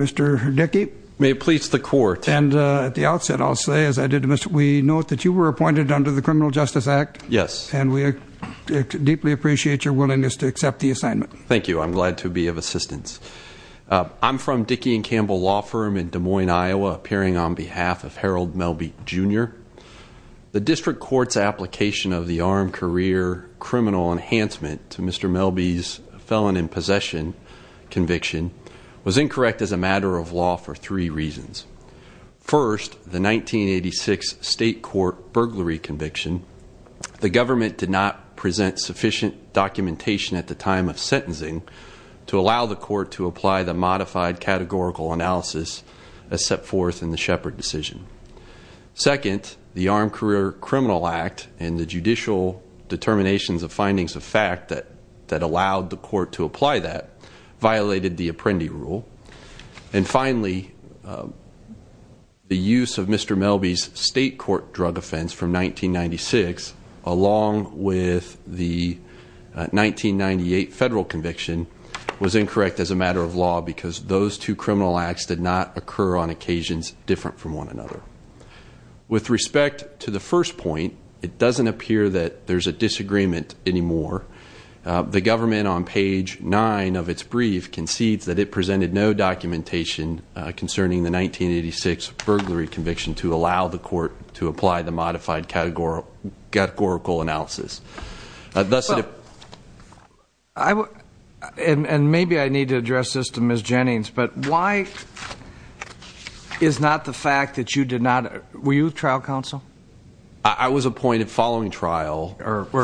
Mr. Dickey. May it please the court. And at the outset I'll say, as I did to Mr. Wee, note that you were appointed under the Criminal Justice Act. Yes. And we deeply appreciate your willingness to accept the assignment. Thank you. I'm glad to be of assistance. I'm from Dickey and Campbell Law Firm in Des Moines, Iowa, appearing on behalf of Harold Melbie, Jr. The District Court's application of the Armed Career Criminal Enhancement to Mr. Melbie's possession conviction was incorrect as a matter of law for three reasons. First, the 1986 state court burglary conviction. The government did not present sufficient documentation at the time of sentencing to allow the court to apply the modified categorical analysis as set forth in the Shepard decision. Second, the Armed Career Criminal Act and the judicial determinations of violated the Apprendi rule. And finally, the use of Mr. Melbie's state court drug offense from 1996 along with the 1998 federal conviction was incorrect as a matter of law because those two criminal acts did not occur on occasions different from one another. With respect to the first point, it doesn't appear that there's a disagreement anymore. The government on page nine of its brief concedes that it presented no documentation concerning the 1986 burglary conviction to allow the court to apply the modified categorical analysis. And maybe I need to address this to Ms. Jennings, but why is not the fact that you did trial counsel? I was appointed following trial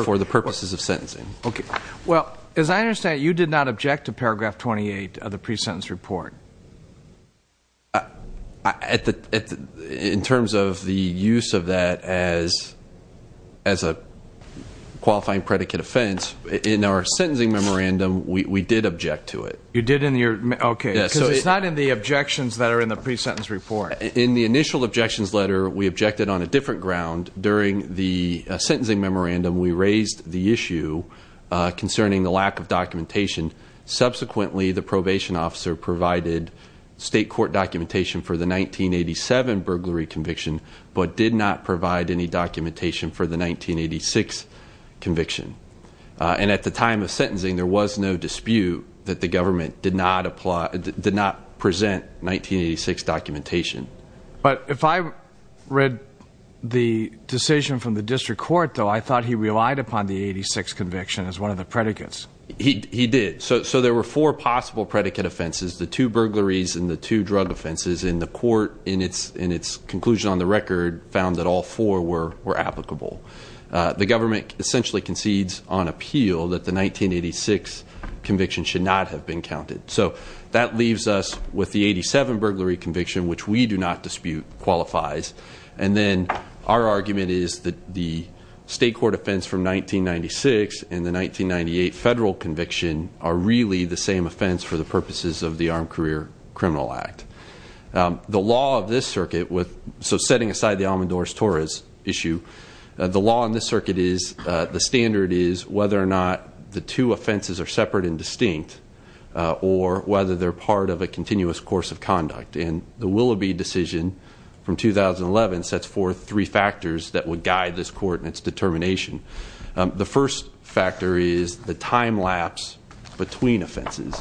for the purposes of sentencing. Okay. Well, as I understand it, you did not object to paragraph 28 of the pre-sentence report. In terms of the use of that as a qualifying predicate offense, in our sentencing memorandum, we did object to it. You did? Okay. Because it's not in the objections that are in the pre-sentence report. In the initial objections letter, we objected on a different ground. During the sentencing memorandum, we raised the issue concerning the lack of documentation. Subsequently, the probation officer provided state court documentation for the 1987 burglary conviction, but did not provide any documentation for the 1986 conviction. And at the time of sentencing, there was no dispute that the government did not present 1986 documentation. But if I read the decision from the district court, though, I thought he relied upon the 86 conviction as one of the predicates. He did. So there were four possible predicate offenses, the two burglaries and the two drug offenses. And the court, in its conclusion on the record, found that all four were applicable. The government essentially concedes on appeal that the 1986 conviction should not have been counted. So that leaves us with the 87 burglary conviction, which we do not dispute qualifies. And then our argument is that the state court offense from 1996 and the 1998 federal conviction are really the same offense for the purposes of the Armed Career Criminal Act. The law of this circuit, so setting aside the Almendores-Torres issue, the law in this circuit is, the standard is, whether or not the two offenses are separate and distinct, or whether they're part of a continuous course of conduct. And the Willoughby decision from 2011 sets forth three factors that would guide this court in its determination. The first factor is the time lapse between offenses.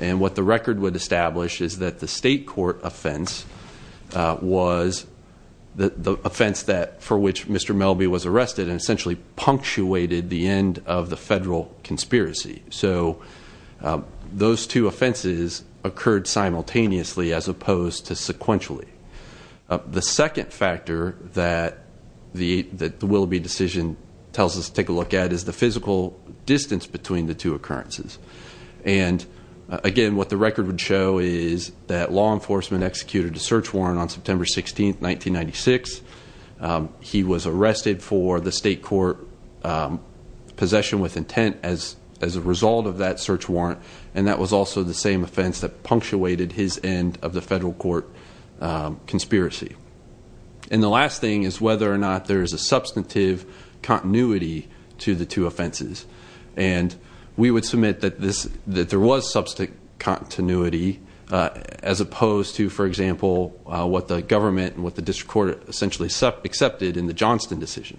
And what the record would establish is that the state court offense was the offense for which Mr. Melby was arrested and essentially punctuated the end of the federal conspiracy. So those two offenses occurred simultaneously as opposed to sequentially. The second factor that the Willoughby decision tells us to take a look at is the physical distance between the two occurrences. And again, what the record would show is that law enforcement executed a search warrant on September 16th, 1996. He was arrested for the state court possession with intent as a result of that search warrant. And that was also the same offense that punctuated his end of the federal court conspiracy. And the last thing is whether or not there is a substantive continuity to the two offenses. And we would submit that there was substantive continuity as opposed to, for example, what the government and what the district court essentially accepted in the Johnston decision.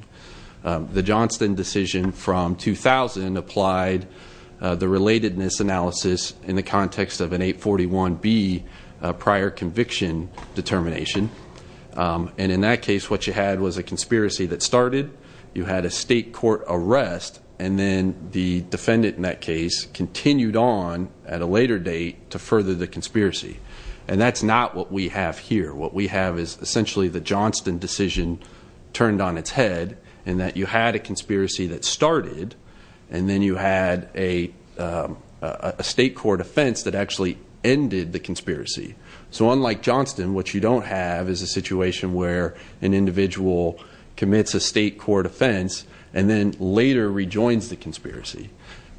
The Johnston decision from 2000 applied the relatedness analysis in the context of an 841B prior conviction determination. And in that case, what you had was a conspiracy that started, you had a state court arrest, and then the defendant in that case continued on at a later date to further the conspiracy. And that's not what we have here. What we have is essentially the Johnston decision turned on its head and that you had a conspiracy that started and then you had a state court offense that actually ended the conspiracy. So unlike Johnston, what you don't have is a situation where an individual commits a state court offense and then later rejoins the conspiracy.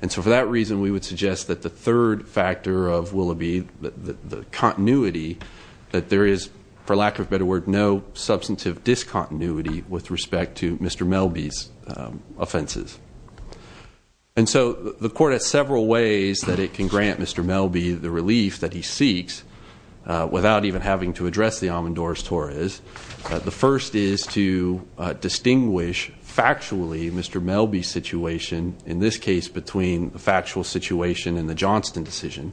And so for that reason, we would suggest that the third factor of Willoughby, the continuity, that there is, for lack of a better word, no substantive discontinuity with respect to Mr. Melby's offenses. And so the court has several ways that it can grant Mr. Melby the relief that he seeks without even having to address the Amandores-Torres. The first is to distinguish factually Mr. Melby's situation, in this case between the factual situation and the Johnston decision.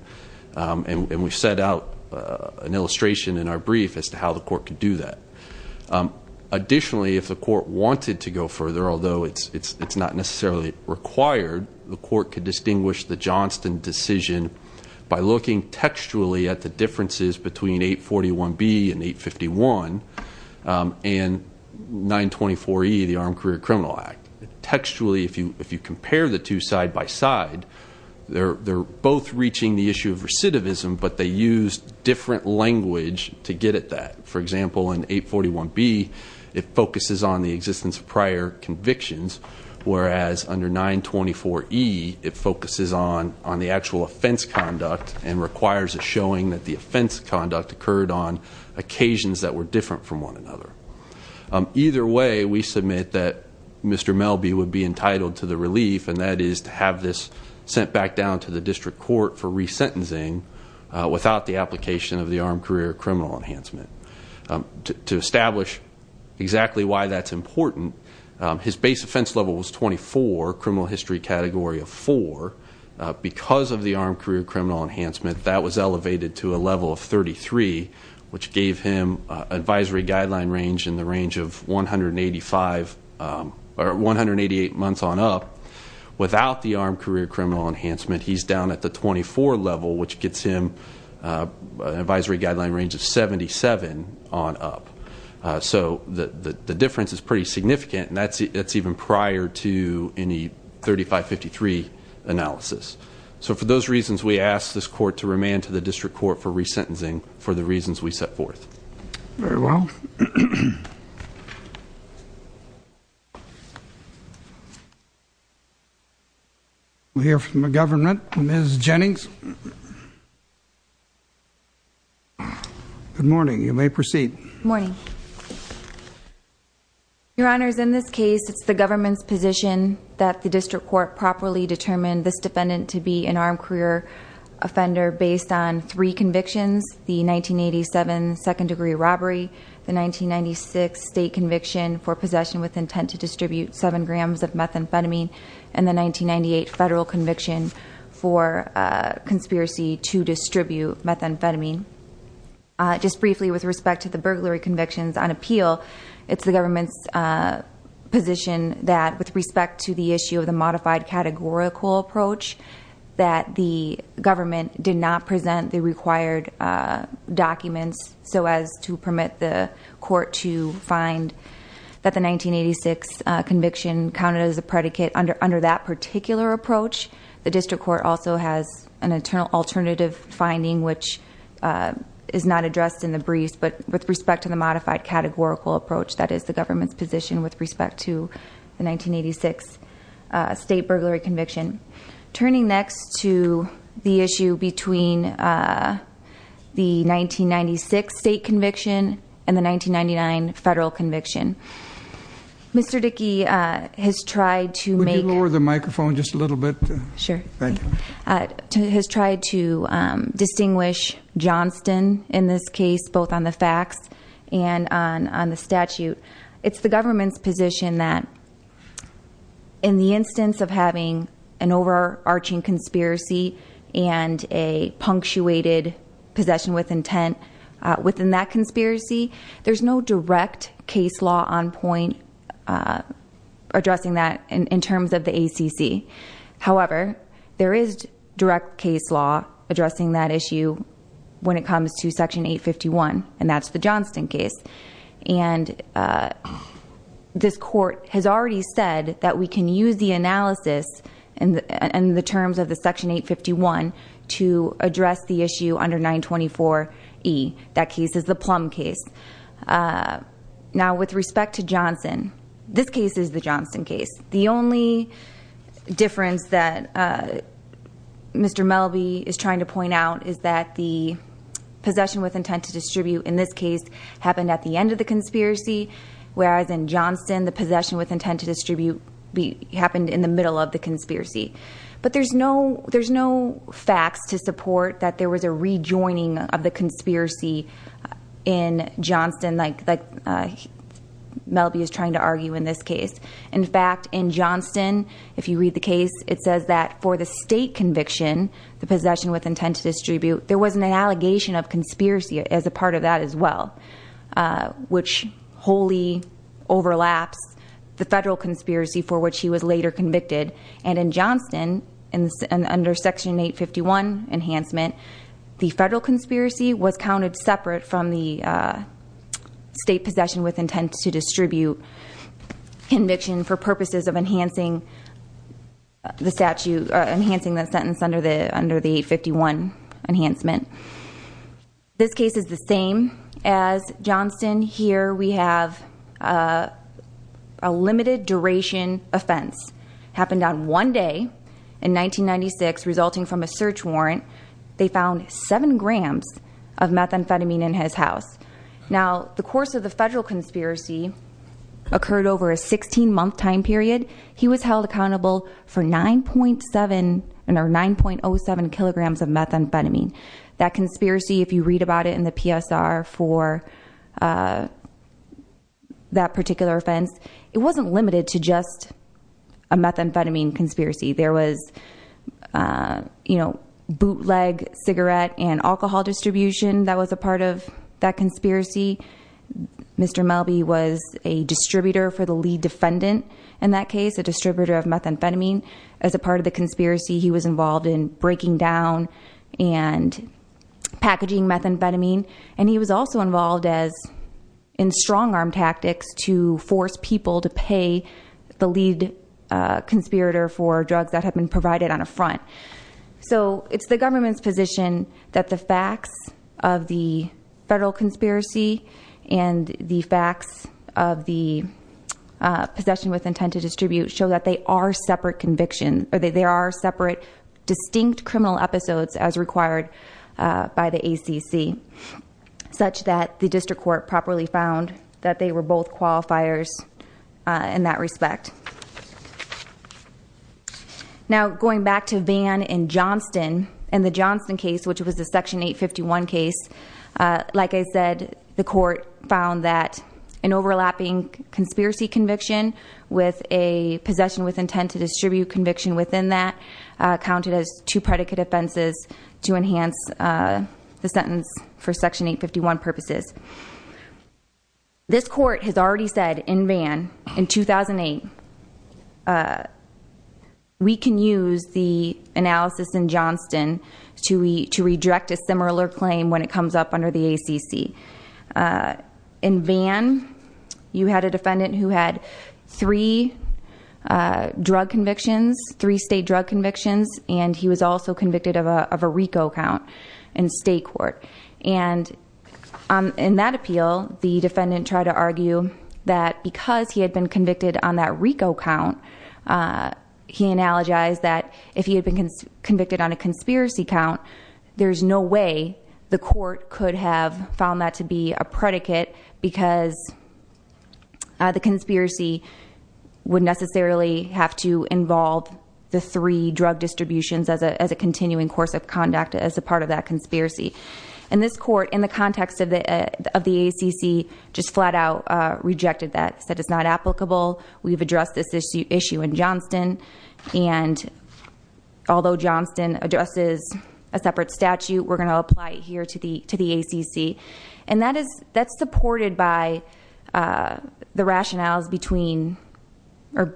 And we've set out an illustration in our brief as to how the court could do that. Additionally, if the court wanted to go further, although it's not necessarily required, the court could distinguish the Johnston decision by looking textually at the differences between 841B and 851 and 924E, the Armed Career Criminal Act. Textually, if you compare the two side by side, they're both reaching the issue of recidivism, but they use different language to get that. For example, in 841B, it focuses on the existence of prior convictions, whereas under 924E, it focuses on the actual offense conduct and requires a showing that the offense conduct occurred on occasions that were different from one another. Either way, we submit that Mr. Melby would be entitled to the relief, and that is to have this sent back down to the district court for resentencing without the application of the Armed Career Criminal Enhancement. To establish exactly why that's important, his base offense level was 24, criminal history category of four. Because of the Armed Career Criminal Enhancement, that was elevated to a level of 33, which gave him advisory guideline range in the range of 188 months on up. Without the Armed Career Criminal Enhancement, he's down at the 24 level, which gets him an advisory guideline range of 77 on up. So, the difference is pretty significant, and that's even prior to any 3553 analysis. So, for those reasons, we ask this court to approve this. We'll hear from the government. Ms. Jennings. Good morning. You may proceed. Morning. Your Honors, in this case, it's the government's position that the district court properly determined this defendant to be an armed career offender based on three convictions, the 1987 second degree robbery, the 1996 state conviction for possession with intent to distribute seven grams of methamphetamine, and the 1998 federal conviction for conspiracy to distribute methamphetamine. Just briefly, with respect to the burglary convictions on appeal, it's the government's position that, with respect to the issue of the modified categorical approach, that the government did not present the required documents so as to permit the court to find that the 1986 conviction counted as a predicate under that particular approach. The district court also has an internal alternative finding, which is not addressed in the briefs, but with respect to the modified categorical approach, that is the government's position with respect to the 1986 state burglary conviction. Turning next to the issue between the 1996 state conviction and the 1999 federal conviction, Mr. Dickey has tried to make- Would you lower the microphone just a little bit? Sure. Has tried to distinguish Johnston in this case, both on the facts and on the statute. It's the government's position that, in the instance of having an overarching conspiracy and a punctuated possession with intent within that conspiracy, there's no direct case law on point addressing that in terms of the ACC. However, there is direct case law addressing that issue when it comes to Section 851, and that's the Johnston case. And this court has already said that we can use the analysis and the terms of the Section 851 to address the issue under 924E. That case is the Plum case. Now, with respect to Johnston, this case is the Johnston case. The only difference that Mr. Melby is trying to point out is that the possession with intent to distribute in this case happened at the end of the conspiracy, whereas in Johnston, the possession with intent to distribute happened in the middle of the conspiracy. But there's no facts to support that there was a rejoining of the conspiracy in Johnston, like Melby is trying to argue in this case. In fact, in Johnston, if you read the case, it says that for the state conviction, the possession with intent to distribute, there was an allegation of conspiracy as a part of that as well, which wholly overlaps the federal conspiracy for which he was later convicted. And in Johnston, under Section 851 enhancement, the federal conspiracy was counted separate from the possession with intent to distribute conviction for purposes of enhancing the sentence under the 851 enhancement. This case is the same as Johnston. Here we have a limited duration offense. Happened on one day in 1996 resulting from a search warrant. They found seven grams of methamphetamine in his house. Now, the course of the federal conspiracy occurred over a 16 month time period. He was held accountable for 9.07 kilograms of methamphetamine. That conspiracy, if you read about it in the PSR for that particular offense, it wasn't limited to leg, cigarette, and alcohol distribution that was a part of that conspiracy. Mr. Melby was a distributor for the lead defendant in that case, a distributor of methamphetamine. As a part of the conspiracy, he was involved in breaking down and packaging methamphetamine. And he was also involved in strong arm tactics to force people to pay the lead conspirator for drugs that had been provided on a front. So it's the government's position that the facts of the federal conspiracy and the facts of the possession with intent to distribute show that they are separate conviction or they are separate distinct criminal episodes as required by the ACC, such that the district court properly found that they were both qualifiers in that respect. Now, going back to Vann and Johnston and the Johnston case, which was the Section 851 case, like I said, the court found that an overlapping conspiracy conviction with a possession with intent to distribute conviction within that counted as two predicate offenses to enhance the sentence for Section 851 purposes. This court has already said in Vann in 2008 that we can use the analysis in Johnston to reject a similar claim when it comes up under the ACC. In Vann, you had a defendant who had three drug convictions, three state drug convictions, and he was also convicted of a RICO count in state court. And in that appeal, the defendant tried to argue that because he had been convicted on that RICO count, he analogized that if he had been convicted on a conspiracy count, there's no way the court could have found that to be a predicate because the conspiracy would necessarily have to involve the three drug distributions as a continuing course of conduct as a part of that conspiracy. In this court, in the context of the ACC, just flat out rejected that, said it's not applicable. We've addressed this issue in Johnston, and although Johnston addresses a separate statute, we're going to apply it here to the ACC. And that's supported by the rationales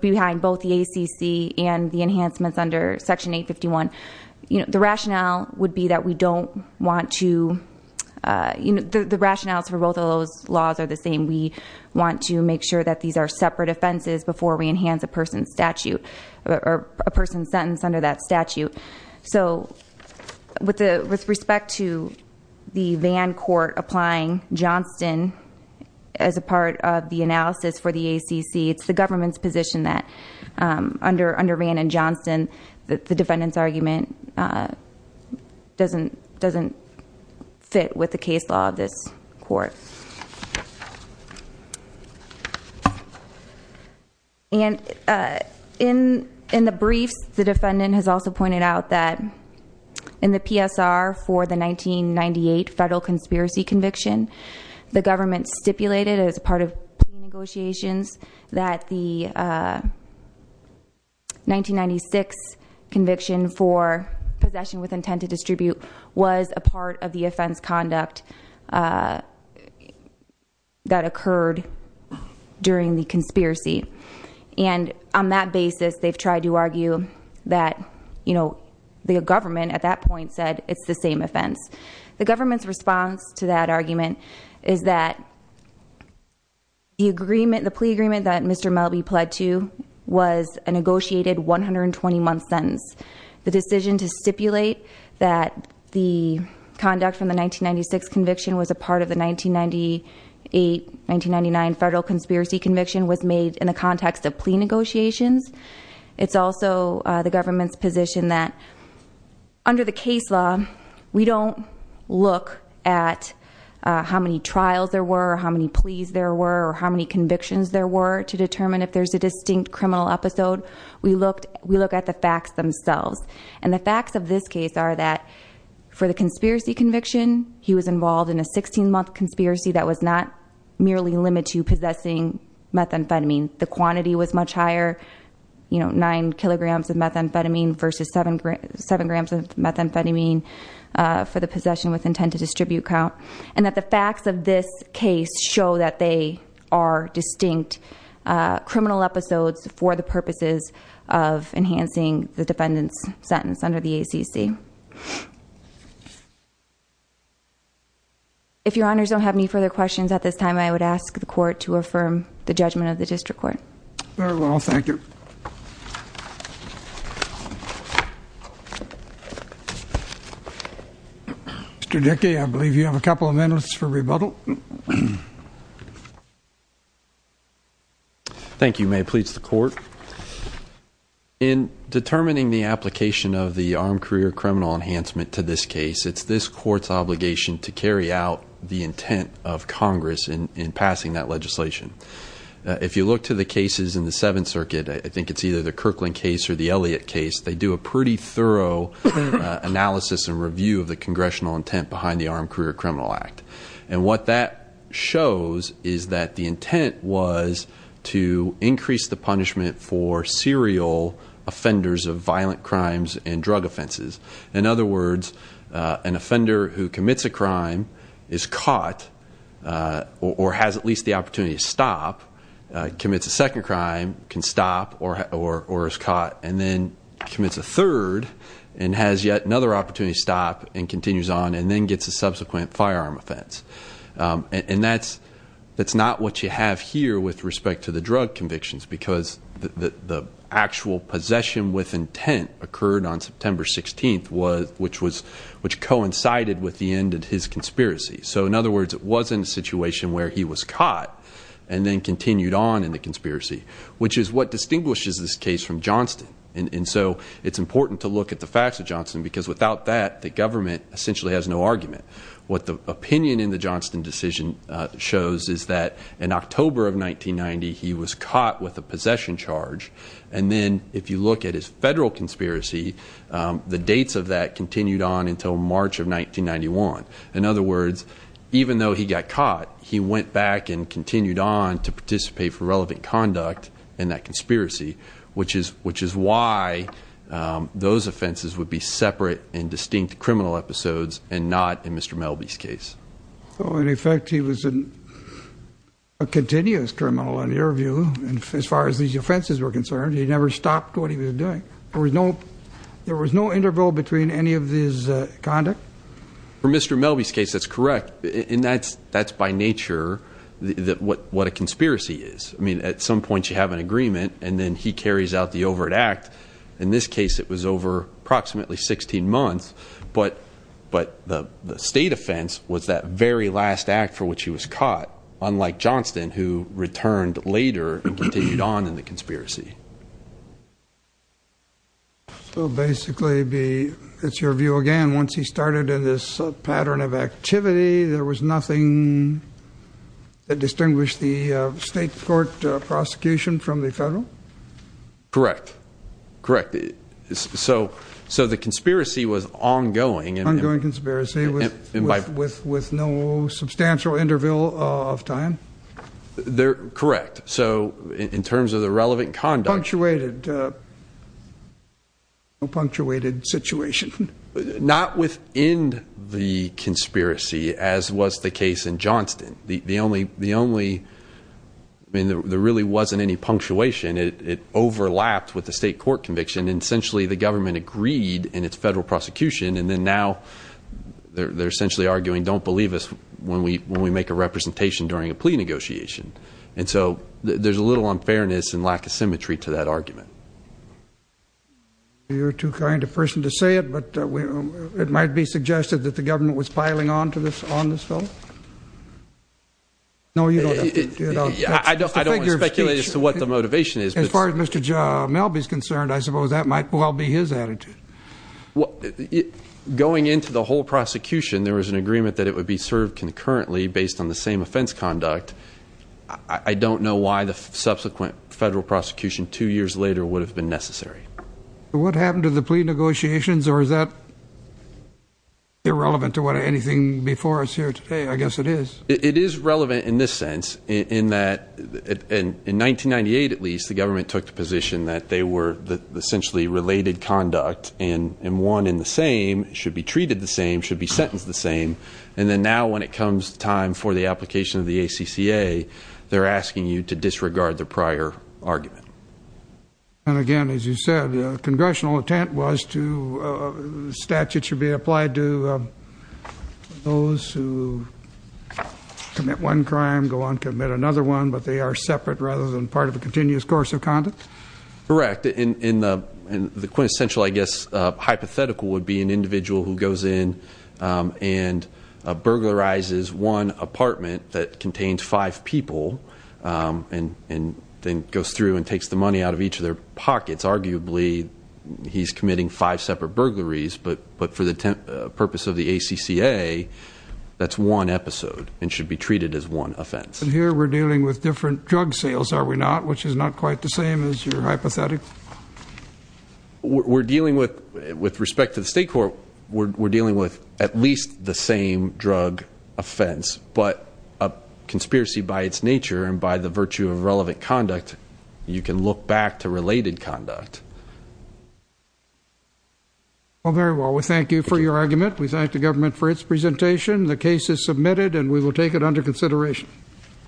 behind both the ACC and the rationales for both of those laws are the same. We want to make sure that these are separate offenses before we enhance a person's statute or a person's sentence under that statute. So with respect to the Vann court applying Johnston as a part of the analysis for the ACC, it's the government's position that under Vann and Johnston, the defendant's argument doesn't fit with the case law of this court. And in the briefs, the defendant has also pointed out that in the PSR for the 1998 federal conspiracy conviction, the government stipulated as part of the negotiations that the possession with intent to distribute was a part of the offense conduct that occurred during the conspiracy. And on that basis, they've tried to argue that the government at that point said it's the same offense. The government's response to that argument is that the plea agreement that Mr. Melby pled to was a negotiated 120-month sentence. The decision to stipulate that the conduct from the 1996 conviction was a part of the 1998-1999 federal conspiracy conviction was made in the context of plea negotiations. It's also the government's position that under the case law, we don't look at how many trials there were, how many pleas there were, or how many convictions there were to determine if there's a And the facts of this case are that for the conspiracy conviction, he was involved in a 16-month conspiracy that was not merely limited to possessing methamphetamine. The quantity was much higher, 9 kilograms of methamphetamine versus 7 grams of methamphetamine for the possession with intent to distribute count. And that the facts of this case show that they are distinct criminal episodes for the purposes of enhancing the defendant's sentence under the ACC. If your honors don't have any further questions at this time, I would ask the court to affirm the judgment of the district court. Very well, thank you. Mr. Dickey, I believe you have a couple of minutes for rebuttal. Thank you. May it please the court. In determining the application of the armed career criminal enhancement to this case, it's this court's obligation to carry out the intent of Congress in passing that legislation. If you look to the cases in the Seventh Circuit, I think it's either the Kirkland case or the Elliott case, they do a pretty thorough analysis and review of the congressional intent behind the was to increase the punishment for serial offenders of violent crimes and drug offenses. In other words, an offender who commits a crime is caught or has at least the opportunity to stop, commits a second crime, can stop or is caught and then commits a third and has yet another opportunity to stop and continues on and then gets a subsequent firearm offense. And that's not what you have here with respect to the drug convictions because the actual possession with intent occurred on September 16th, which coincided with the end of his conspiracy. So in other words, it was in a situation where he was caught and then continued on in the conspiracy, which is what distinguishes this case from Johnston. And so it's important to look at the facts of Johnston because without that, the government essentially has no argument. What the opinion in the Johnston decision shows is that in October of 1990, he was caught with a possession charge. And then if you look at his federal conspiracy, the dates of that continued on until March of 1991. In other words, even though he got caught, he went back and continued on to participate for relevant conduct in that conspiracy, which is why those offenses would be in the Johnston case. So in effect, he was a continuous criminal in your view. And as far as these offenses were concerned, he never stopped what he was doing. There was no interval between any of these conduct? For Mr. Melby's case, that's correct. And that's by nature what a conspiracy is. I mean, at some point you have an agreement and then he carries out the overt act. In this case, the state offense was that very last act for which he was caught, unlike Johnston, who returned later and continued on in the conspiracy. So basically, it's your view again, once he started in this pattern of activity, there was nothing that distinguished the state court prosecution from the federal? Correct. Correct. So the conspiracy was ongoing. Ongoing conspiracy with no substantial interval of time? Correct. So in terms of the relevant conduct- Punctuated. No punctuated situation. Not within the conspiracy, as was the case in Johnston. There really wasn't any punctuation. It overlapped with the state court conviction, and essentially the government agreed in its federal prosecution. And then now they're essentially arguing, don't believe us when we make a representation during a plea negotiation. And so there's a little unfairness and lack of symmetry to that argument. You're too kind a person to say it, but it might be suggested that the government was piling on to this, on this fellow? No, you don't have to do it. I don't want to speculate as to what motivation is. As far as Mr. Melby's concerned, I suppose that might well be his attitude. Going into the whole prosecution, there was an agreement that it would be served concurrently based on the same offense conduct. I don't know why the subsequent federal prosecution two years later would have been necessary. What happened to the plea negotiations or is that irrelevant to what anything before us here today? I guess it is. It is relevant in this sense, in that in 1998 at least, the government took the position that they were essentially related conduct and won in the same, should be treated the same, should be sentenced the same. And then now when it comes time for the application of the ACCA, they're asking you to disregard the prior argument. And again, as you said, the congressional intent was to, the statute should be applied to those who commit one crime, go on, commit another one, but they are separate rather than part of a continuous course of conduct? Correct. And the quintessential, I guess, hypothetical would be an individual who goes in and burglarizes one apartment that contains five people and then goes through and takes the money out of each of their pockets. Arguably, he's committing five separate burglaries, but for the purpose of the ACCA, that's one episode and should be treated as one offense. And here we're dealing with different drug sales, are we not, which is not quite the same as your hypothetical? We're dealing with, with respect to the state court, we're dealing with at least the same drug offense, but a conspiracy by its nature and by the virtue of relevant conduct, you can look back to related conduct. Well, very well. We thank you for your argument. We thank the government for its presentation. The case is submitted and we will take it under consideration.